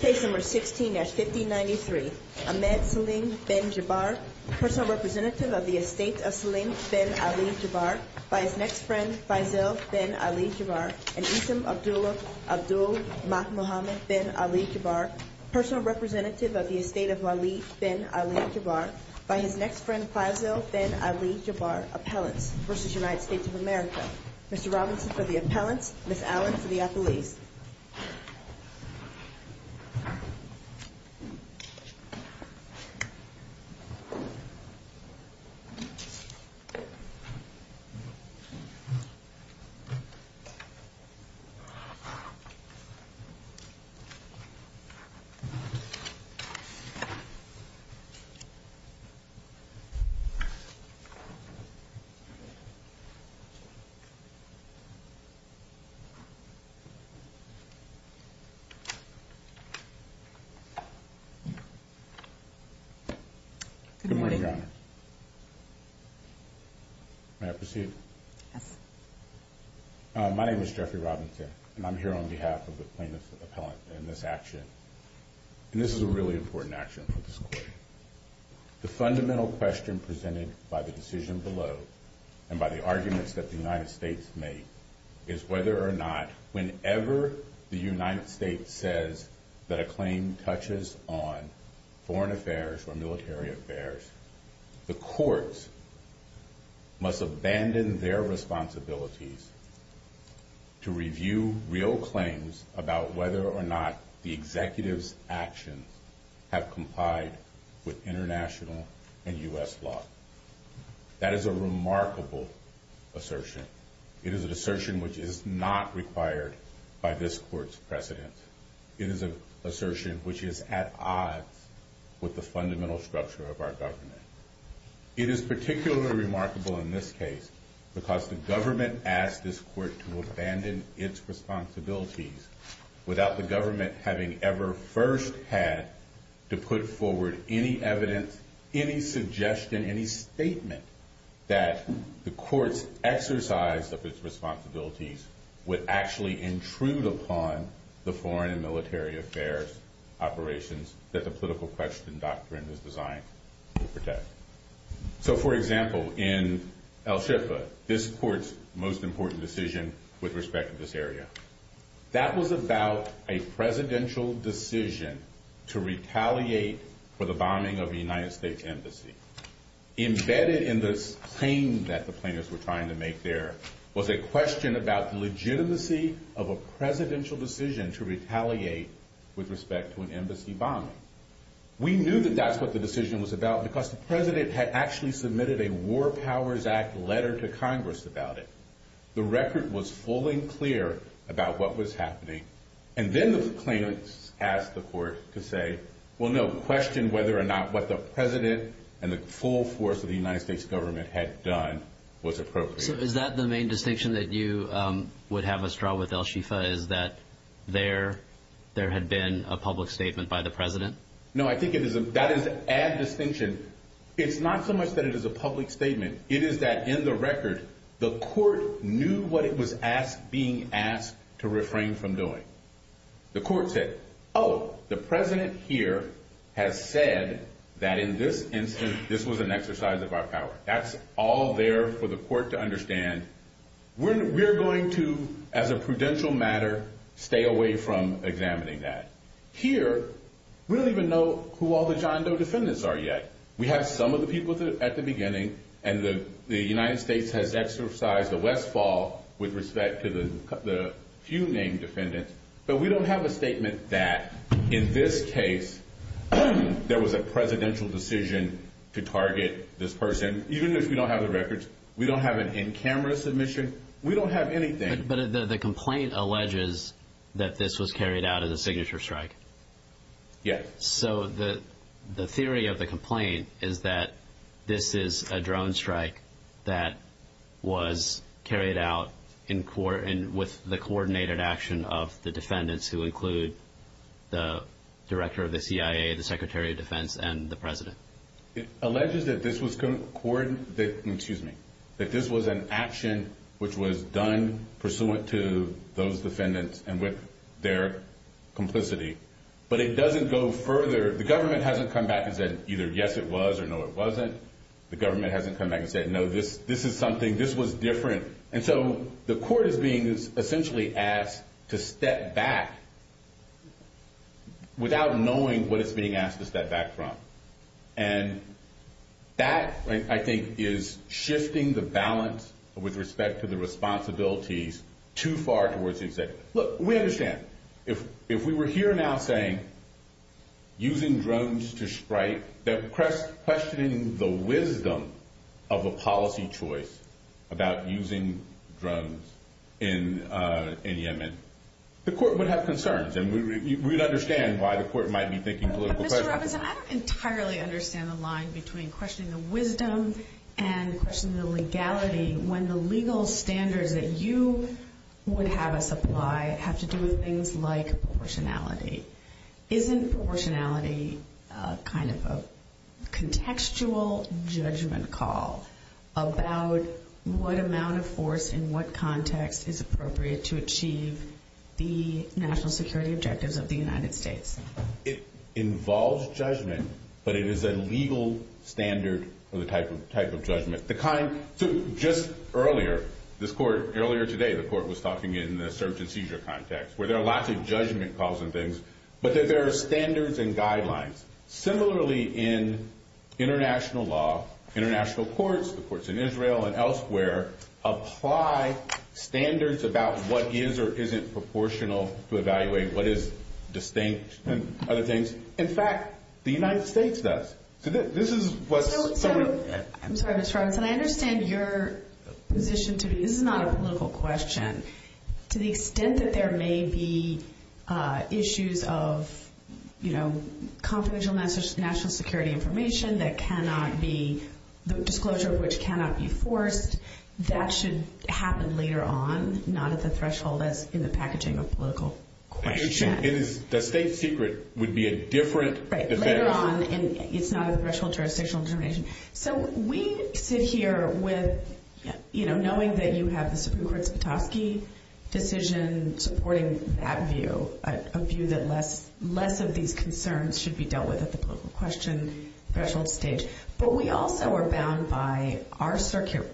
Case number 16-1593, Ahmed Selim Bin Jabar, personal representative of the estate of Selim Bin Ali Jabar, by his next friend Faisal Bin Ali Jabar, and Issam Abdullah Abdul Mahmoud Bin Ali Jabar, personal representative of the estate of Waleed Bin Ali Jabar, by his next friend Faisal Bin Ali Jabar, appellants, v. United States of America. Mr. Robinson for the appellants, Ms. Allen for the appellees. Good morning, Your Honor. May I proceed? Yes. My name is Jeffrey Robinson, and I'm here on behalf of the plaintiffs' appellant in this action. And this is a really important action for this court. The fundamental question presented by the decision below, and by the is whether or not, whenever the United States says that a claim touches on foreign affairs or military affairs, the courts must abandon their responsibilities to review real claims about whether or not the executive's actions have complied with international and U.S. law. That is a remarkable assertion. It is an assertion which is not required by this court's precedent. It is an assertion which is at odds with the fundamental structure of our government. It is particularly remarkable in this case because the government asked this court to abandon its responsibilities without the government having ever first had to put forward any evidence, any suggestion, any statement that the court's exercise of its responsibilities would actually intrude upon the foreign and military affairs operations that the political question doctrine is designed to protect. So, for example, in El Shifa, this court's most important decision with respect to this area. That was about a presidential decision to retaliate for the bombing of a United States embassy. Embedded in this claim that the plaintiffs were trying to make there was a question about the legitimacy of a presidential decision to retaliate with respect to an embassy bombing. We knew that that's what the decision was about because the president had actually submitted a War Powers Act letter to Congress about it. The record was full and clear about what was happening. And then the plaintiffs asked the court to say, well, no, question whether or not what the president and the full force of the United States government had done was appropriate. So is that the main distinction that you would have us draw with El Shifa is that there had been a public statement by the president? No, I think that is an added distinction. It's not so much that it is a public statement. It is that in the record, the court knew what it was being asked to refrain from doing. The court said, oh, the president here has said that in this instance, this was an exercise of our power. That's all there for the court to understand. We're going to, as a prudential matter, stay away from examining that. Here, we don't even know who all the John Doe defendants are yet. We have some of the people at the beginning, and the United States has exercised a Westfall with respect to the few named defendants. But we don't have a statement that, in this case, there was a presidential decision to target this person. Even if we don't have the records, we don't have an in-camera submission. We don't have anything. But the complaint alleges that this was carried out as a signature strike. Yes. So the theory of the complaint is that this is a drone strike that was carried out with the coordinated action of the defendants, who include the director of the CIA, the Secretary of Defense, and the president. It alleges that this was an action which was done pursuant to those defendants and with their complicity. But it doesn't go further. The government hasn't come back and said either, yes, it was, or no, it wasn't. The government hasn't come back and said, no, this is something. This was different. And so the court is being essentially asked to step back without knowing what it's being asked to step back from. And that, I think, is shifting the balance with respect to the If we were here now saying, using drones to strike, questioning the wisdom of a policy choice about using drones in Yemen, the court would have concerns. And we'd understand why the court might be thinking political questions. Mr. Robinson, I don't entirely understand the line between questioning the wisdom and questioning the legality when the legal standards that you would have us apply have to do with things like proportionality. Isn't proportionality kind of a contextual judgment call about what amount of force in what context is appropriate to achieve the national security objectives of the United States? It involves judgment, but it is a legal standard of the type of judgment. So just earlier, this court, earlier today, the court was talking in the search and seizure context, where there are lots of judgment calls and things, but that there are standards and guidelines. Similarly in international law, international courts, the courts in Israel and elsewhere, apply standards about what is or isn't proportional to evaluate what is distinct and other things. In fact, the United States does. So this is what's sort of I'm sorry, Mr. Robinson. I understand your position to be, this is not a political question. To the extent that there may be issues of confidential national security information that cannot be, the disclosure of which cannot be forced, that should happen later on, not at the threshold that's in the packaging of political question. The state secret would be a different effect. Right, later on, and it's not at the threshold of jurisdictional determination. So we sit here with, you know, knowing that you have the Supreme Court's Petoskey decision supporting that view, a view that less of these concerns should be dealt with at the political question threshold stage. But we also are bound by our circuit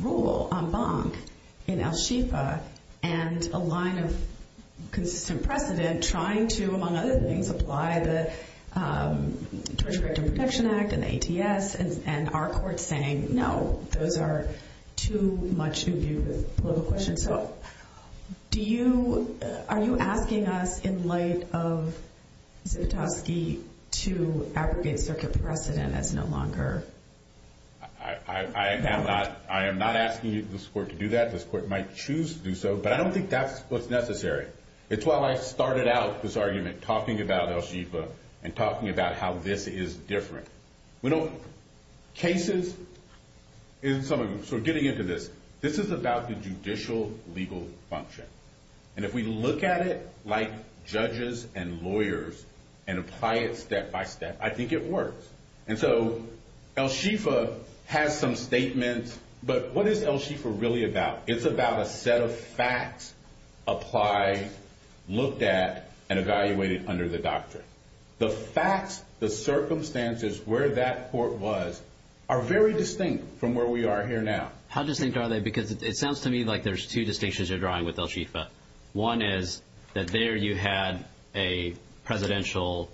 rule en banc in El Shifa, and a line of consistent precedent trying to, among other things, apply the Torture Victim Protection Act and the ATS, and our court saying, no, those are too much to do with political questions. So do you, are you asking us in light of Petoskey to abrogate circuit precedent as no longer valid? I am not asking this court to do that. This court might choose to do so, but I don't think that's what's necessary. It's why I started out this argument talking about El Shifa and talking about how this is different. We don't, cases, in some of them, so getting into this, this is about the judicial legal function. And if we look at it like judges and lawyers and apply it step by step, I think it works. And so El Shifa has some statements, but what is El Shifa really about? It's about a set of facts applied, looked at, and evaluated under the doctrine. The facts, the circumstances where that court was are very distinct from where we are here now. How distinct are they? Because it sounds to me like there's two distinctions you're drawing with El Shifa. One is that there you had a presidential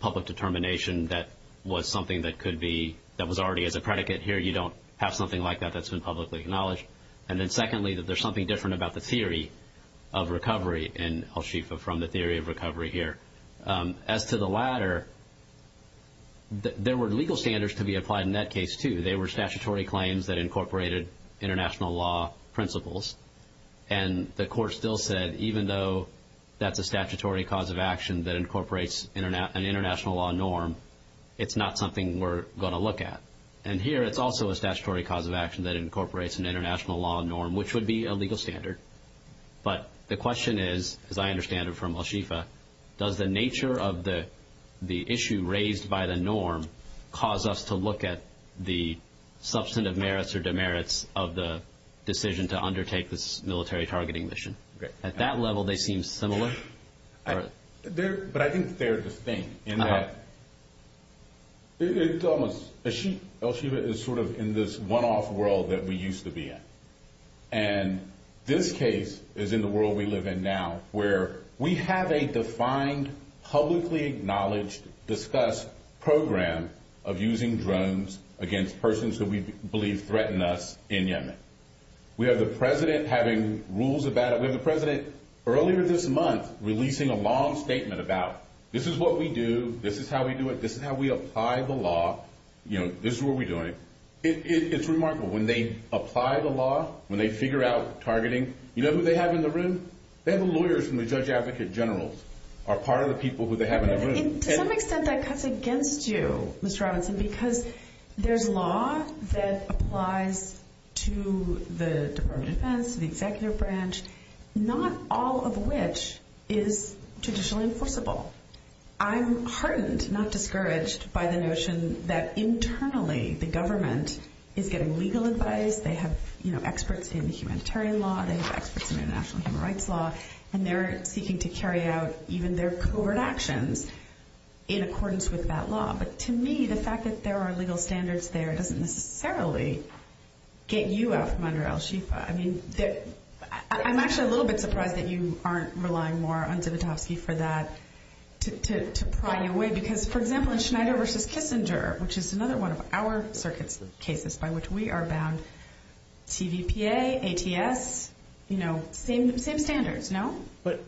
public determination that was something that could be, that was already as a predicate here. You don't have something like that that's been publicly acknowledged. And then secondly, that there's something different about the theory of recovery in El Shifa from the theory of recovery here. As to the latter, there were legal standards to be applied in that case too. They were statutory claims that incorporated international law principles. And the court still said even though that's a statutory cause of action that incorporates an international law norm, it's not something we're going to look at. And here it's also a statutory cause of action that incorporates an international law norm, which would be a legal standard. But the question is, as I understand it from El Shifa, does the nature of the issue raised by the norm cause us to look at the substantive merits or demerits of the decision to undertake this military targeting mission? At that level, they seem similar? But I think they're distinct in that El Shifa is sort of in this one-off world that we used to be in. And this case is in the world we live in now, where we have a defined, publicly acknowledged, discussed program of using drones against persons who we believe threaten us in Yemen. We have the president having rules about it. We have the president earlier this month releasing a long statement about this is what we do, this is how we do it, this is how we apply the law, this is what we're doing. It's remarkable when they apply the law, when they figure out targeting. You know who they have in the room? They have lawyers from the judge advocate generals are part of the people who they have in the room. And to some extent that cuts against you, Mr. Robinson, because there's law that applies to the Department of Defense, the all of which is traditionally enforceable. I'm heartened, not discouraged, by the notion that internally the government is getting legal advice. They have experts in humanitarian law, they have experts in international human rights law, and they're seeking to carry out even their covert actions in accordance with that law. But to me, the fact that there are legal standards there doesn't necessarily get you out from under El Shifa. I mean, I'm actually a little bit surprised that you aren't relying more on Zivotofsky for that to pry you away. Because, for example, in Schneider v. Kissinger, which is another one of our circuit cases by which we are bound, TVPA, ATS, you know, same standards, no? But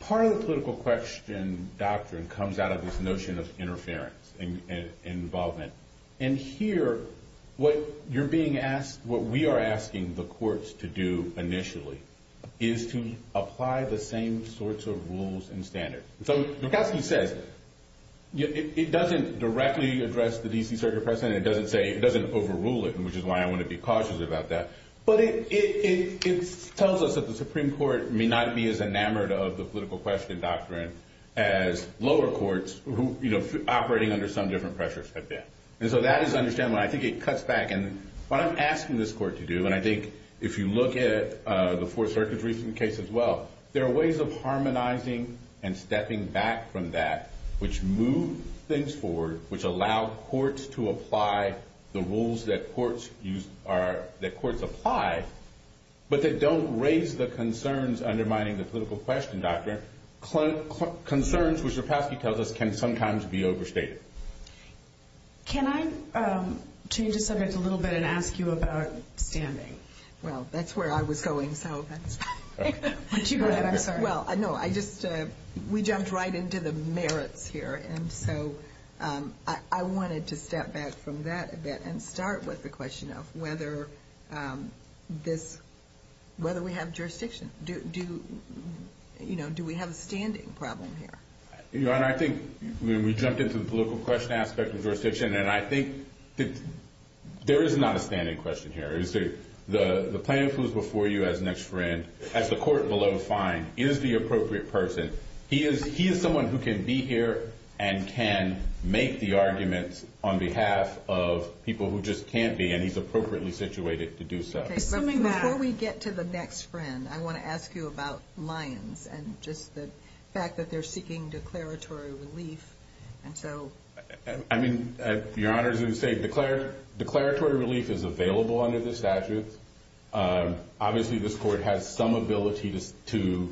part of the political question doctrine comes out of this notion of interference and involvement. And here, what you're being asked, what we are is to apply the same sorts of rules and standards. So Drogoski says it doesn't directly address the D.C. circuit precedent, it doesn't say, it doesn't overrule it, which is why I want to be cautious about that. But it tells us that the Supreme Court may not be as enamored of the political question doctrine as lower courts who, you know, operating under some different pressures have been. And so that is understandable. I think it cuts back, and what I'm asking this court to do, and I think if you look at the Fourth Circuit's recent case as well, there are ways of harmonizing and stepping back from that, which move things forward, which allow courts to apply the rules that courts apply, but that don't raise the concerns undermining the political question doctrine. Concerns, which Drogoski tells us, can sometimes be overstated. Can I change the subject a little bit and ask you about standing? Well, that's where I was going, so that's fine. Well, no, I just, we jumped right into the merits here, and so I wanted to step back from that a bit and start with the question of whether this, whether we have jurisdiction. Do, you know, do we have a standing problem here? Your Honor, I think when we jumped into the political question aspect of jurisdiction, and I think that there is not a standing question here. The plaintiff who's before you as next friend, as the court below finds, is the appropriate person. He is, he is someone who can be here and can make the arguments on behalf of people who just can't be, and he's appropriately situated to do so. Okay, before we get to the next friend, I want to ask you about Lyons and just the fact that they're seeking declaratory relief, and so. I mean, Your Honor, as you say, declaratory relief is available under the statute. Obviously, this court has some ability to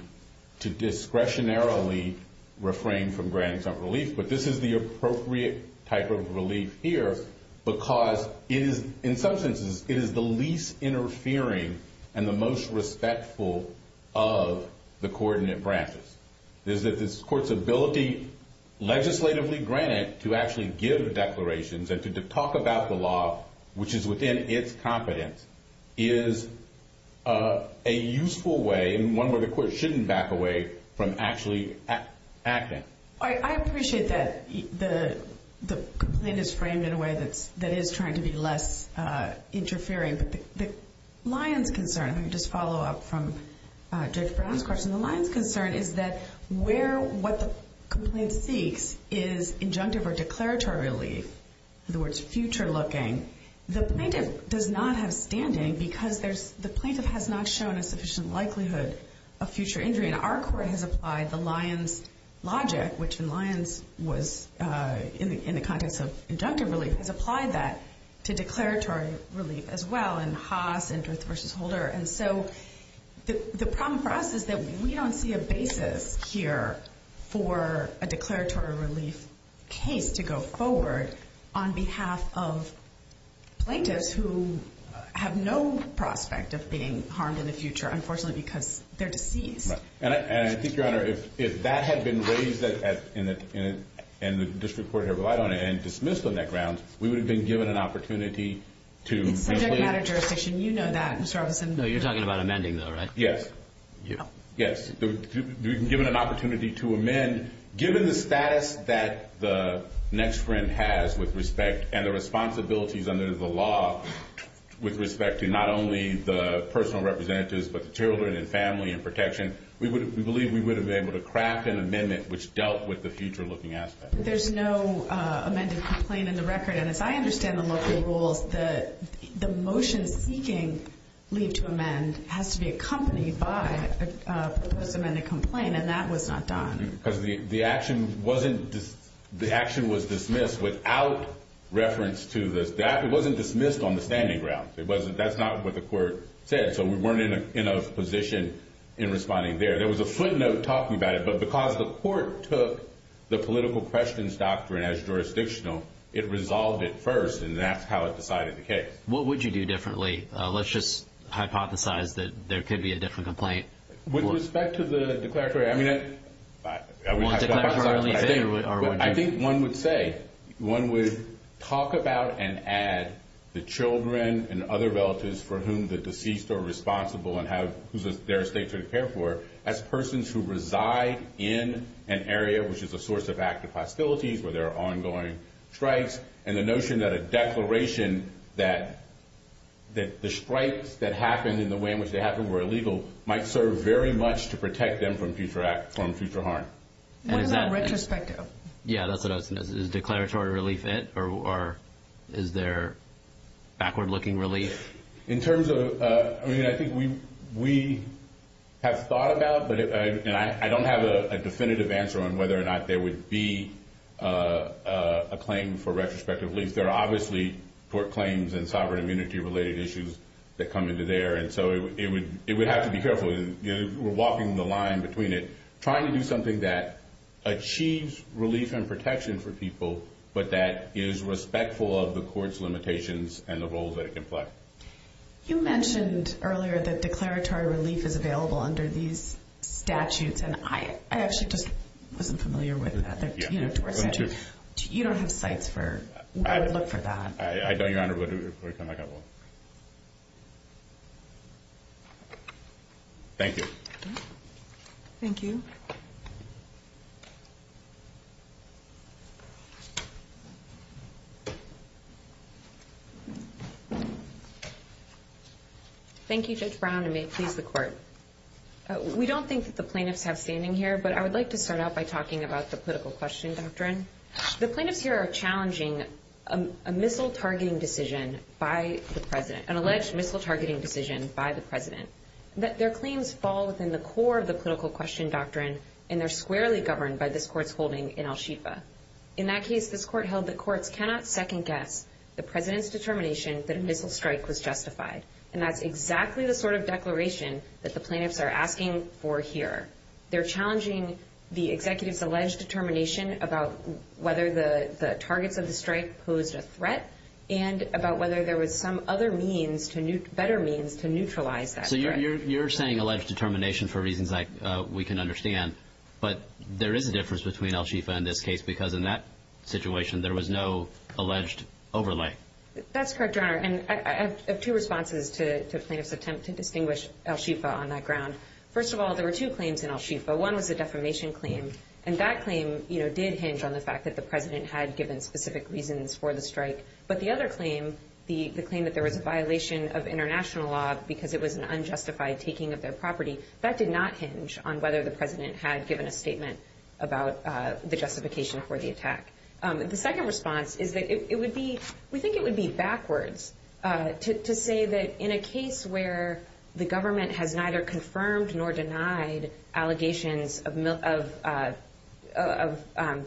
discretionarily refrain from granting some relief, but this is the appropriate type of relief here because it is, in some senses, it is the least interfering and the most respectful of the coordinate branches. It is that this court's ability, legislatively granted, to actually give declarations and to talk about the law, which is within its competence, is a useful way, and one where the court shouldn't back away from actually acting. I appreciate that the the complaint is framed in a way that's, that is trying to be less interfering, but the Lyons concern, I'm going to just follow up from Judge Brown's question, the Lyons concern is that where what the complaint seeks is injunctive or declaratory relief, in other words, future looking, the plaintiff does not have standing because there's, the plaintiff has not shown a sufficient likelihood of future injury, and our court has applied the Lyons logic, which in Lyons was in the context of injunctive relief, has applied that to declaratory relief as well in Haas and Ruth v. Holder, and so the problem for us is that we don't see a basis here for a declaratory relief case to go forward on behalf of plaintiffs who have no prospect of being harmed in the future, unfortunately, because they're deceased. And I think, Your Honor, if that had been raised at, and the district court had relied on it and dismissed on that ground, we would have been given an opportunity to. It's subject matter jurisdiction, you know that, Mr. Robinson. No, you're talking about amending though, right? Yes, yes, given an opportunity to amend, given the status that the next friend has with respect and the responsibilities under the law with respect to not only the personal representatives, but the children and family and protection, we would, we believe we would have been able to craft an amendment which dealt with the future looking aspect. There's no amended complaint in the record, and as I understand the local rules, the motion seeking leave to amend has to be accompanied by a post-amended complaint, and that was not done. Because the action wasn't, the action was dismissed without reference to this, that, it wasn't dismissed on the standing ground. It wasn't, that's not what the court said, so we weren't in a position in responding there. There was a footnote talking about it, but because the court took the political questions doctrine as jurisdictional, it resolved it first, and that's how it decided the case. What would you do differently? Let's just hypothesize that there could be a different complaint. With respect to the declaratory, I mean, I think one would say, one would talk about and add the children and other relatives for whom the deceased are responsible and have, whose, their estate to prepare for, as persons who reside in an area which is a source of active hostilities, where there are ongoing strikes, and the notion that a declaration that, that the strikes that happened in the way in which they happened were illegal, might serve very much to protect them from future act, from future harm. What about retrospective? Yeah, that's what I was going to say. Is declaratory relief it, or is there backward looking relief? In terms of, I mean, I think we have thought about, but I don't have a definitive answer on whether or not there would be a claim for retrospective relief. There are obviously court claims and sovereign immunity related issues that come into there, and so it would have to be careful. We're walking the line between it, trying to do something that achieves relief and protection for people, but that is respectful of the court's limitations and the roles that it can play. You mentioned earlier that declaratory relief is available under these statutes, and I actually just wasn't familiar with that. You don't have sites for, I would look for that. I don't, Your Honor. Thank you, Judge Brown, and may it please the court. We don't think that the plaintiffs have standing here, but I would like to start out by talking about the political question doctrine. The plaintiffs here are challenging a missile targeting decision by the president, an alleged missile targeting decision by the president, that their claims fall within the core of the political question doctrine, and they're squarely governed by this court's holding in Al-Shifa. In that case, this court held the courts cannot second guess the president's determination that a missile strike was justified, and that's exactly the sort of declaration that the plaintiffs are asking for here. They're challenging the executive's alleged determination about whether the targets of the strike posed a threat and about whether there was some other means to, better means to neutralize that threat. So you're saying alleged determination for reasons like we can understand, but there is a difference between Al-Shifa and this case, because in that situation, there was no alleged overlay. That's correct, Your Honor, and I have two responses to the plaintiff's attempt to distinguish Al-Shifa on that ground. First of all, there were two claims in Al-Shifa. One was a defamation claim, and that claim, you know, did hinge on the fact that the president had given specific reasons for the strike, but the other claim, the claim that there was a violation of international law because it was an unjustified taking of their property, that did not hinge on whether the president had a statement about the justification for the attack. The second response is that it would be, we think it would be backwards to say that in a case where the government has neither confirmed nor denied allegations of the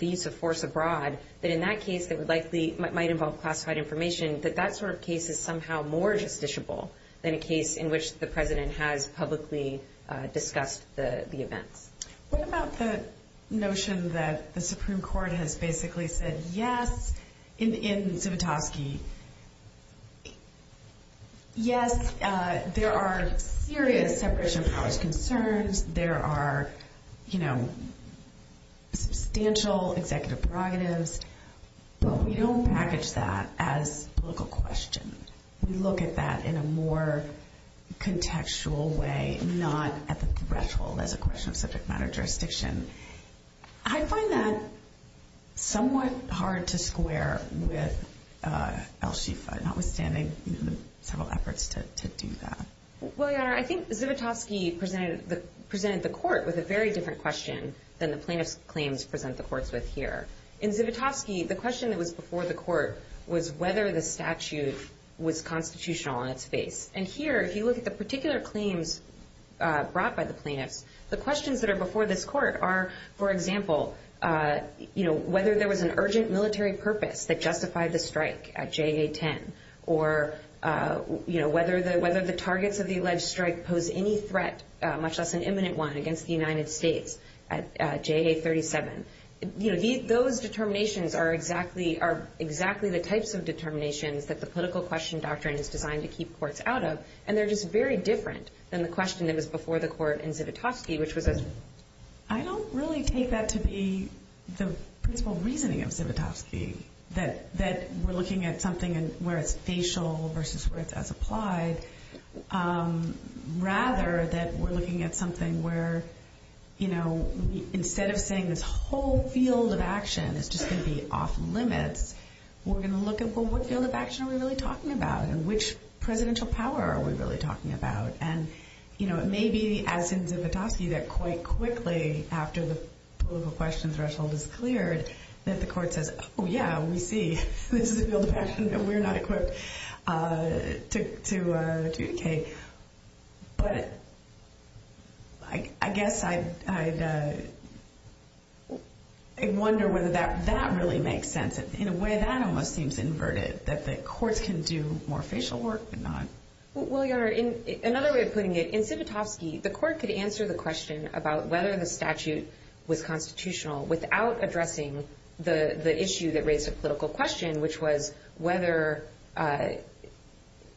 use of force abroad, that in that case, it would likely, might involve classified information, that that sort of case is somehow more justiciable than a case in which the president has publicly discussed the events. What about the notion that the Supreme Court has basically said, yes, in Zivotofsky, yes, there are serious separation of powers concerns, there are, you know, substantial executive prerogatives, but we don't package that as a political question. We look at that in a more contextual way, not at the threshold as a question of subject matter jurisdiction. I find that somewhat hard to square with Al-Shifa, notwithstanding several efforts to do that. Well, Your Honor, I think Zivotofsky presented the court with a very different question than the plaintiff's claims present the courts with here. In Zivotofsky, the question that was before the court was whether the statute was constitutional on its face. And here, if you look at the particular claims brought by the plaintiffs, the questions that are before this court are, for example, you know, whether there was an urgent military purpose that justified the strike at JA-10, or, you know, whether the targets of the alleged strike pose any threat, much less an imminent one, against the United States at JA-37. You know, those determinations are exactly the types of determinations that the political question doctrine is designed to keep courts out of, and they're just very different than the question that was before the court in Zivotofsky, which was as... I don't really take that to be the principal reasoning of Zivotofsky, that we're looking at something where it's facial versus where it's as applied, rather that we're looking at something where, you know, instead of saying this whole field of action is just going to be off limits, we're going to look at, well, what field of action are we really talking about, and which presidential power are we really talking about? And, you know, it may be, as in Zivotofsky, that quite quickly after the political question threshold is cleared, that the court says, oh, yeah, we see this is a field of action that we're not equipped to adjudicate. But I guess I'd wonder whether that really makes sense. In a way, that almost seems inverted, that the courts can do more facial work and not. Well, Your Honor, another way of putting it, in Zivotofsky, the court could answer the question about whether the statute was constitutional without addressing the issue that raised a political question, which was whether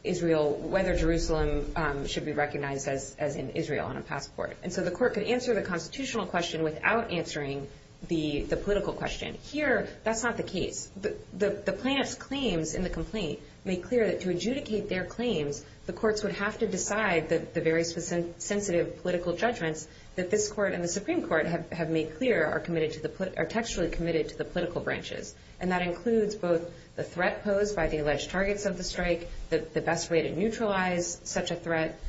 Jerusalem should be recognized as in Israel on a passport. And so the court could answer the constitutional question without answering the political question. Here, that's not the case. The plaintiff's claims in the complaint make clear that to adjudicate their claims, the courts would have to decide the various sensitive political judgments that this court and the Supreme Court have made clear are textually committed to the political branches. And that includes both the threat posed by the alleged targets of the strike, the best way to neutralize such a threat.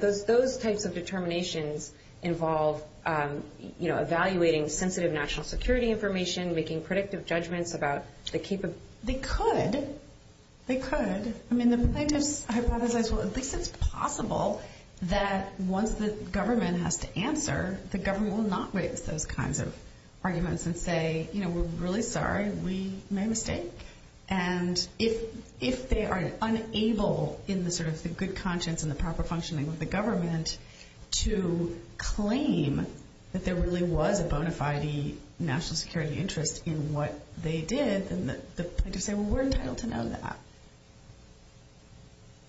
Those types of determinations involve, you know, evaluating sensitive national security information, making predictive judgments about the capability. They could. They could. I mean, the plaintiffs hypothesize, well, at least it's possible that once the government has to answer, the government will not raise those kinds of arguments and say, you know, we're really sorry, we made a mistake. And if they are unable in the sort of the good conscience and the proper functioning of the government to claim that there really was a bona fide national security interest in what they did, then the plaintiffs say, well, we're entitled to know that.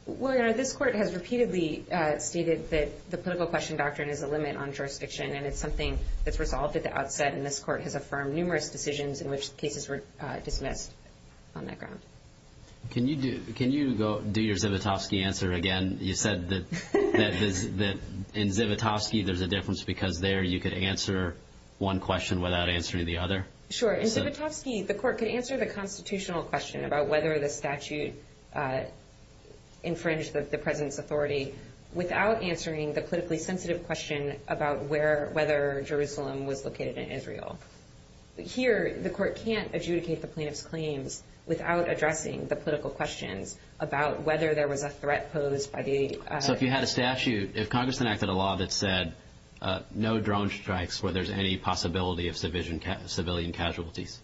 Well, Your Honor, this court has repeatedly stated that the political question doctrine is a limit on jurisdiction. And it's something that's resolved at the outset. And this court has affirmed numerous decisions in which cases were dismissed on that ground. Can you do your Zivotofsky answer again? You said that in Zivotofsky, there's a difference because there you could answer one question without answering the other. Sure. In Zivotofsky, the court could answer the constitutional question about whether the statute infringed the president's authority without answering the politically sensitive question about whether Jerusalem was located in Israel. Here, the court can't adjudicate the plaintiff's claims without addressing the political questions about whether there was a threat posed by the... So if you had a statute, if Congress enacted a law that said no drone strikes where there's any possibility of civilian casualties,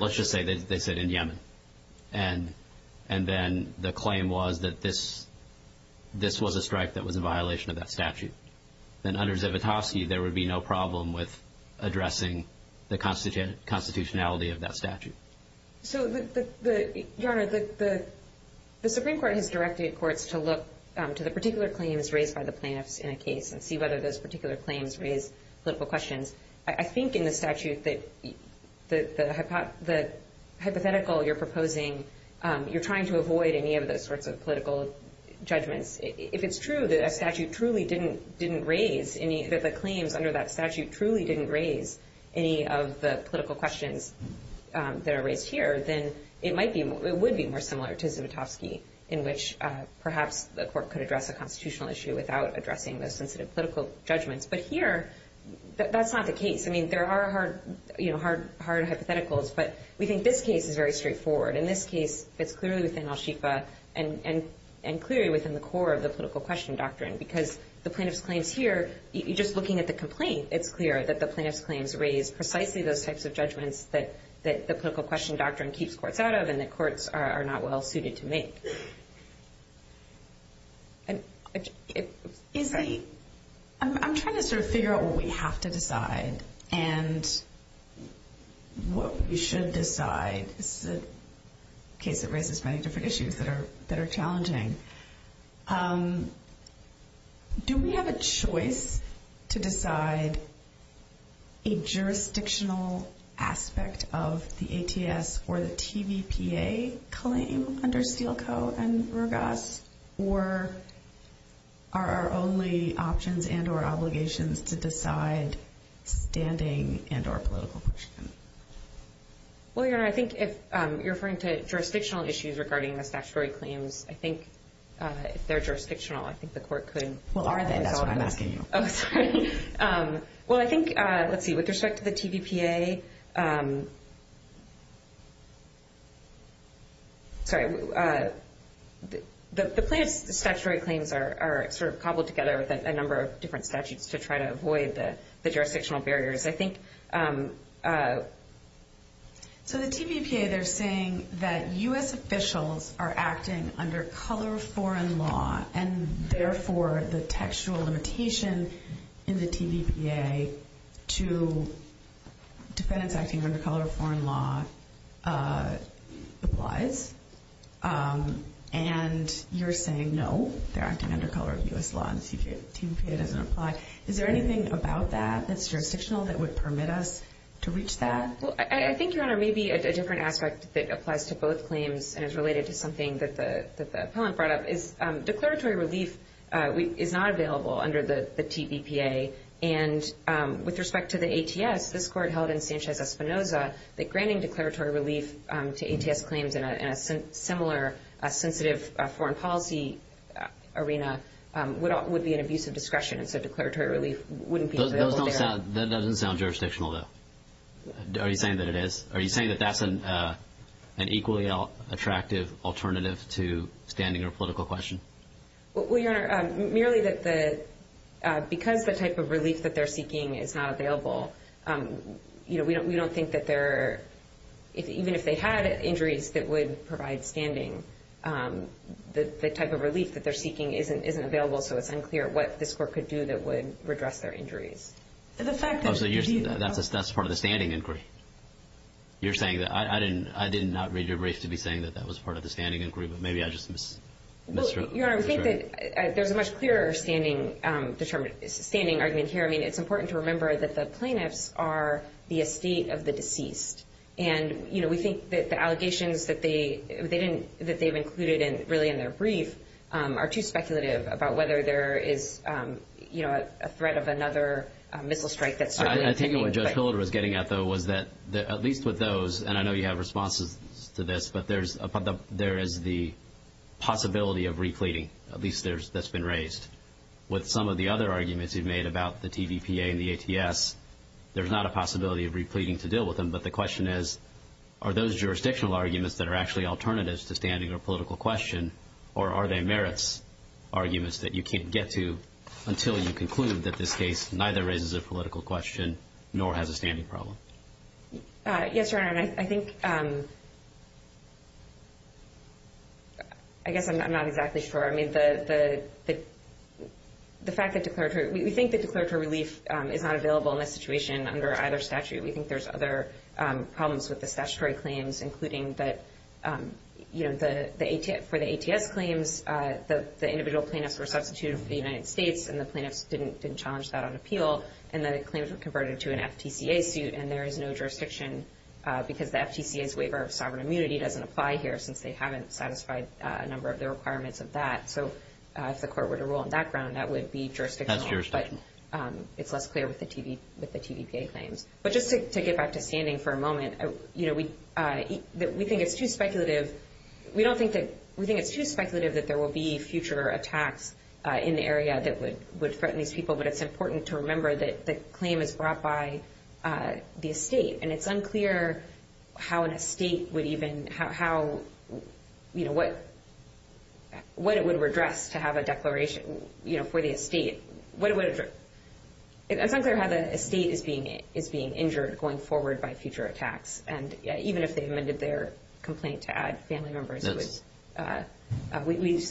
let's just say they said in Yemen. And then the claim was that this was a strike that was a violation of that statute. Then under Zivotofsky, there would be no problem with addressing the constitutionality of that statute. So Your Honor, the Supreme Court has directed courts to look to the particular claims raised by the plaintiffs in a case and see whether those particular claims raise political questions. I think in the statute that the hypothetical you're proposing, you're trying to avoid any of those sorts of political judgments. If it's true that a statute truly didn't raise any, that the claims under that statute truly didn't raise any of the political questions that are raised here, then it might be, it would be more similar to Zivotofsky in which perhaps the court could address a constitutional issue without addressing those sensitive political judgments. But here, that's not the case. I mean, there are hard hypotheticals, but we think this case is very straightforward. In this case, it's clearly within al-Shifa and clearly within the core of the political question doctrine because the plaintiff's claims here, just looking at the complaint, it's clear that the plaintiff's claims raise precisely those types of judgments that the political question doctrine keeps courts out of and that courts are not well suited to make. I'm trying to sort of figure out what we have to decide and what we should decide. This is a case that raises many different issues that are challenging. Do we have a choice to decide a jurisdictional aspect of the ATS or the TVPA claim under Steele Co. and Rogas or are our only options and or obligations to decide standing and or political question? Well, Your Honor, I think if you're referring to jurisdictional issues regarding the statutory claims, I think if they're jurisdictional, I think the court could- Well, are they? That's what I'm asking you. Oh, sorry. Well, I think, let's see, with respect to the TVPA, sorry, the plaintiff's statutory claims are sort of cobbled together with a number of different statutes to try to avoid the jurisdictional barriers. I think- So the TVPA, they're saying that U.S. officials are acting under color of foreign law and therefore the textual limitation in the TVPA to defendants acting under color of foreign law applies and you're saying no, they're acting under color of U.S. law and TVPA doesn't apply. Is there anything about that that's jurisdictional that would permit us to reach that? Well, I think, Your Honor, maybe a different aspect that applies to both claims and is related to something that the appellant brought up is declaratory relief is not available under the TVPA and with respect to the ATS, this court held in Sanchez-Espinoza that granting declaratory relief to ATS claims in a similar sensitive foreign policy arena would be an abuse of discretion and so declaratory relief wouldn't be available there. That doesn't sound jurisdictional though. Are you saying that it is? Are you saying that that's an equally attractive alternative to standing or political question? Well, Your Honor, merely that the- because the type of relief that they're seeking is not available, you know, we don't think that they're- even if they had injuries that would provide standing, the type of relief that they're seeking isn't available so it's unclear what this court could do that would redress their injuries. The fact that- That's part of the standing inquiry. You're saying that- I didn't- I did not read your brief to be saying that that was part of the standing inquiry, but maybe I just mis- Well, Your Honor, I think that there's a much clearer standing argument here. I mean, it's important to remember that the plaintiffs are the estate of the deceased and, you know, we think that the allegations that they didn't- that they've included really in their brief are too speculative about whether there is, you know, a threat of another missile strike that's happening. I think what Judge Hildreth was getting at, though, was that at least with those, and I know you have responses to this, but there's- there is the possibility of repleting, at least there's- that's been raised. With some of the other arguments you've made about the TVPA and the ATS, there's not a possibility of repleting to deal with them, but the question is, are those jurisdictional arguments that are actually alternatives to standing or political question or are they merits arguments that you can't get to until you conclude that this case neither raises a political question nor has a standing problem? Yes, Your Honor, and I think- I guess I'm not exactly sure. I mean, the fact that declaratory- we think that declaratory relief is not available in this situation under either statute. We think there's other problems with the statutory claims, including that, you know, the AT- for the ATS claims, the individual plaintiffs were substituted for the United States and the plaintiffs didn't challenge that on appeal and then the claims were converted to an FTCA suit and there is no jurisdiction because the FTCA's waiver of sovereign immunity doesn't apply here since they haven't satisfied a number of the requirements of that. So, if the court were to rule on that ground, that would be jurisdictional, but it's less clear with the TV- with the TVPA claims. But just to get back to standing for a moment, you know, we- we think it's too speculative. We don't think that- we think it's too speculative that there will be future attacks in the area that would- would threaten these people, but it's important to remember that the claim is brought by the estate and it's unclear how an estate would even- how- how, you know, what- what it would redress to have a declaration, you know, for the estate. What it would- it's unclear how the estate is being- is being injured going forward by future attacks and even if they amended their complaint to add family members, it was- in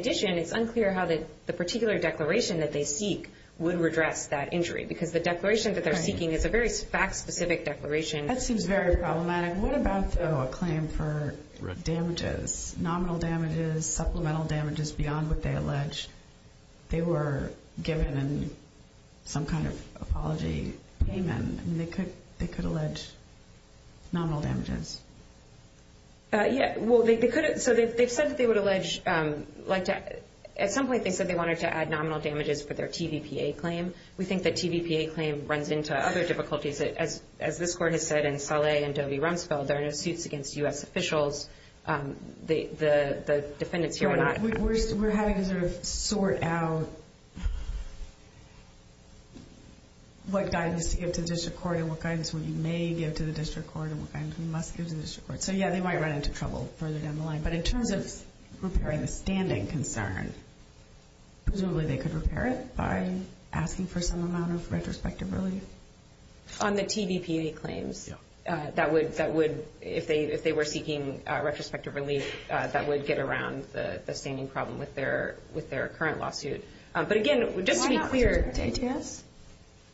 addition, it's unclear how the- the particular declaration that they seek would redress that injury because the declaration that they're seeking is a very fact-specific declaration. That seems very problematic. What about, though, a claim for damages, nominal damages, supplemental damages beyond what they allege? They were given some kind of apology payment and they could- they could allege nominal damages. Yeah, well, they could- so they've said that they would allege- like to- at some point, they said they wanted to add nominal damages for their TVPA claim. We think that TVPA claim runs into other difficulties. As- as this court has said in Saleh and Dovey-Rumsfeld, there are no suits against U.S. officials. The- the- the defendants here were not- We're having to sort of sort out what guidance to give to the district court and what guidance we may give to the district court and what guidance we must give to the district court. So, yeah, they might run into trouble further down the line. But in terms of repairing the standing concern, presumably they could repair it by asking for some amount of retrospective relief? On the TVPA claims? Yeah. That would- that would- if they- if they were seeking retrospective relief, that would get around the- the standing problem with their- with their current lawsuit. But again, just to be clear- Why not return it to ATS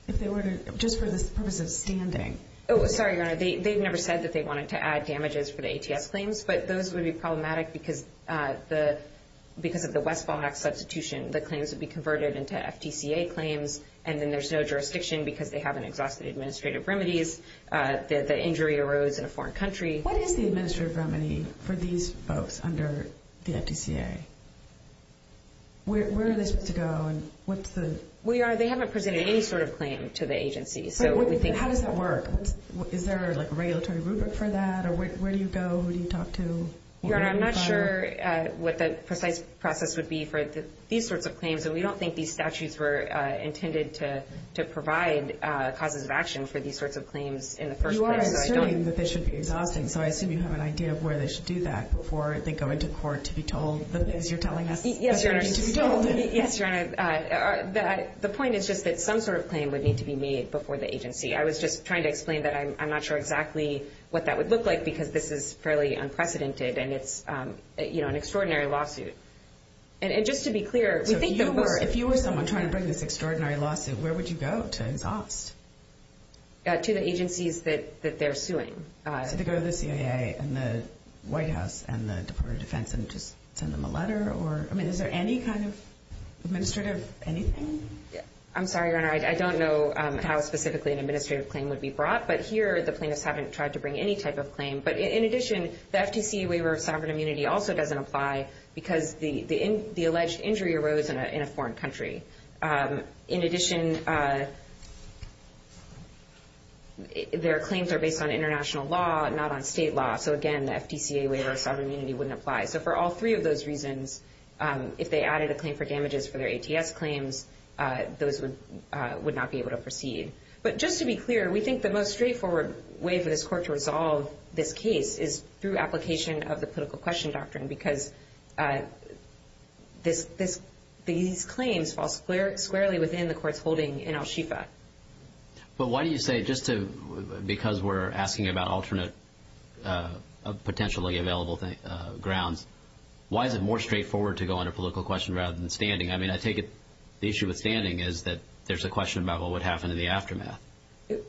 if they were to- just for the purpose of standing? Oh, sorry, Your Honor. They- they've never said that they wanted to add damages for the ATS claims, but those would be problematic because the- because of the Westfall Act substitution, the claims would be converted into FTCA claims, and then there's no jurisdiction because they haven't exhausted administrative remedies. The- the injury arose in a foreign country. What is the administrative remedy for these folks under the FTCA? Where- where are they supposed to go? And what's the- Well, Your Honor, they haven't presented any sort of claim to the agency, so we think- Is there, like, a regulatory rubric for that, or where- where do you go? Who do you talk to? Your Honor, I'm not sure what the precise process would be for these sorts of claims, and we don't think these statutes were intended to- to provide causes of action for these sorts of claims in the first place, so I don't- You are asserting that they should be exhausting, so I assume you have an idea of where they should do that before they go into court to be told the things you're telling us- Yes, Your Honor. are going to be told. Yes, Your Honor. The point is just that some sort of claim would need to be made before the agency. I was just trying to explain that I'm- I'm not sure exactly what that would look like because this is fairly unprecedented, and it's, you know, an extraordinary lawsuit. And- and just to be clear, we think that we're- If you were someone trying to bring this extraordinary lawsuit, where would you go to exhaust? To the agencies that- that they're suing. So to go to the CIA and the White House and the Department of Defense and just send them a letter, or- I mean, is there any kind of administrative anything? I'm sorry, Your Honor. I don't know how specifically an administrative claim would be brought, but here the plaintiffs haven't tried to bring any type of claim. But in addition, the FTCA waiver of sovereign immunity also doesn't apply because the- the- the alleged injury arose in a- in a foreign country. In addition, their claims are based on international law, not on state law. So again, the FTCA waiver of sovereign immunity wouldn't apply. So for all three of those reasons, if they added a claim for damages for their ATS claims, those would- would not be able to proceed. But just to be clear, we think the most straightforward way for this court to resolve this case is through application of the political question doctrine, because this- this- these claims fall square- squarely within the court's holding in Al-Shifa. But why do you say just to- because we're asking about alternate potentially available grounds, why is it more straightforward to go on a political question rather than standing? I mean, I take it the issue with standing is that there's a question about what would happen in the aftermath.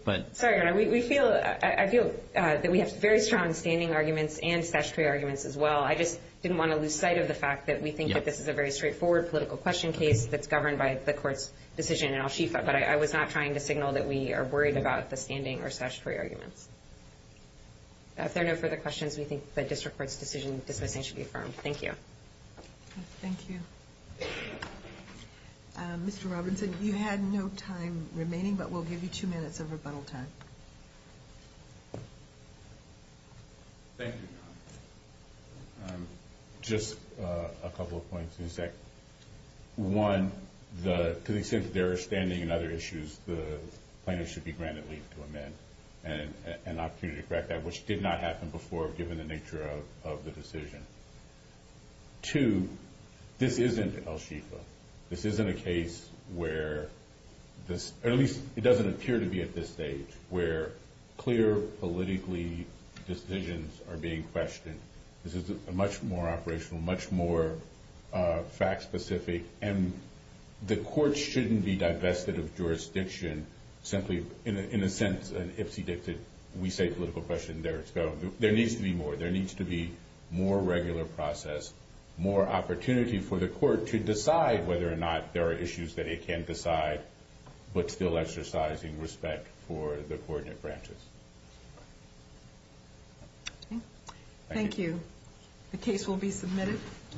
But- Sorry, we feel- I feel that we have very strong standing arguments and statutory arguments as well. I just didn't want to lose sight of the fact that we think that this is a very straightforward political question case that's governed by the court's decision in Al-Shifa, but I was not trying to signal that we are worried about the standing or statutory arguments. If there are no further questions, we think the district court's decision in dismissing should be affirmed. Thank you. Thank you. Mr. Robinson, you had no time remaining, but we'll give you two minutes of rebuttal time. Thank you. Just a couple of points in a sec. One, the- to the extent that there is standing and other issues, the plaintiff should be granted leave to amend and an opportunity to correct that, which did not happen before, given the nature of the decision. Two, this isn't Al-Shifa. This isn't a case where this- or at least it doesn't appear to be at this stage, where clear politically decisions are being questioned. This is a much more operational, much more fact-specific, and the court shouldn't be divested of jurisdiction simply in a sense, an Ipsy-Dixit, we say political question, there it's going. There needs to be more. There needs to be more regular process, more opportunity for the court to decide whether or not there are issues that it can't decide, but still exercising respect for the coordinate branches. Thank you. The case will be submitted.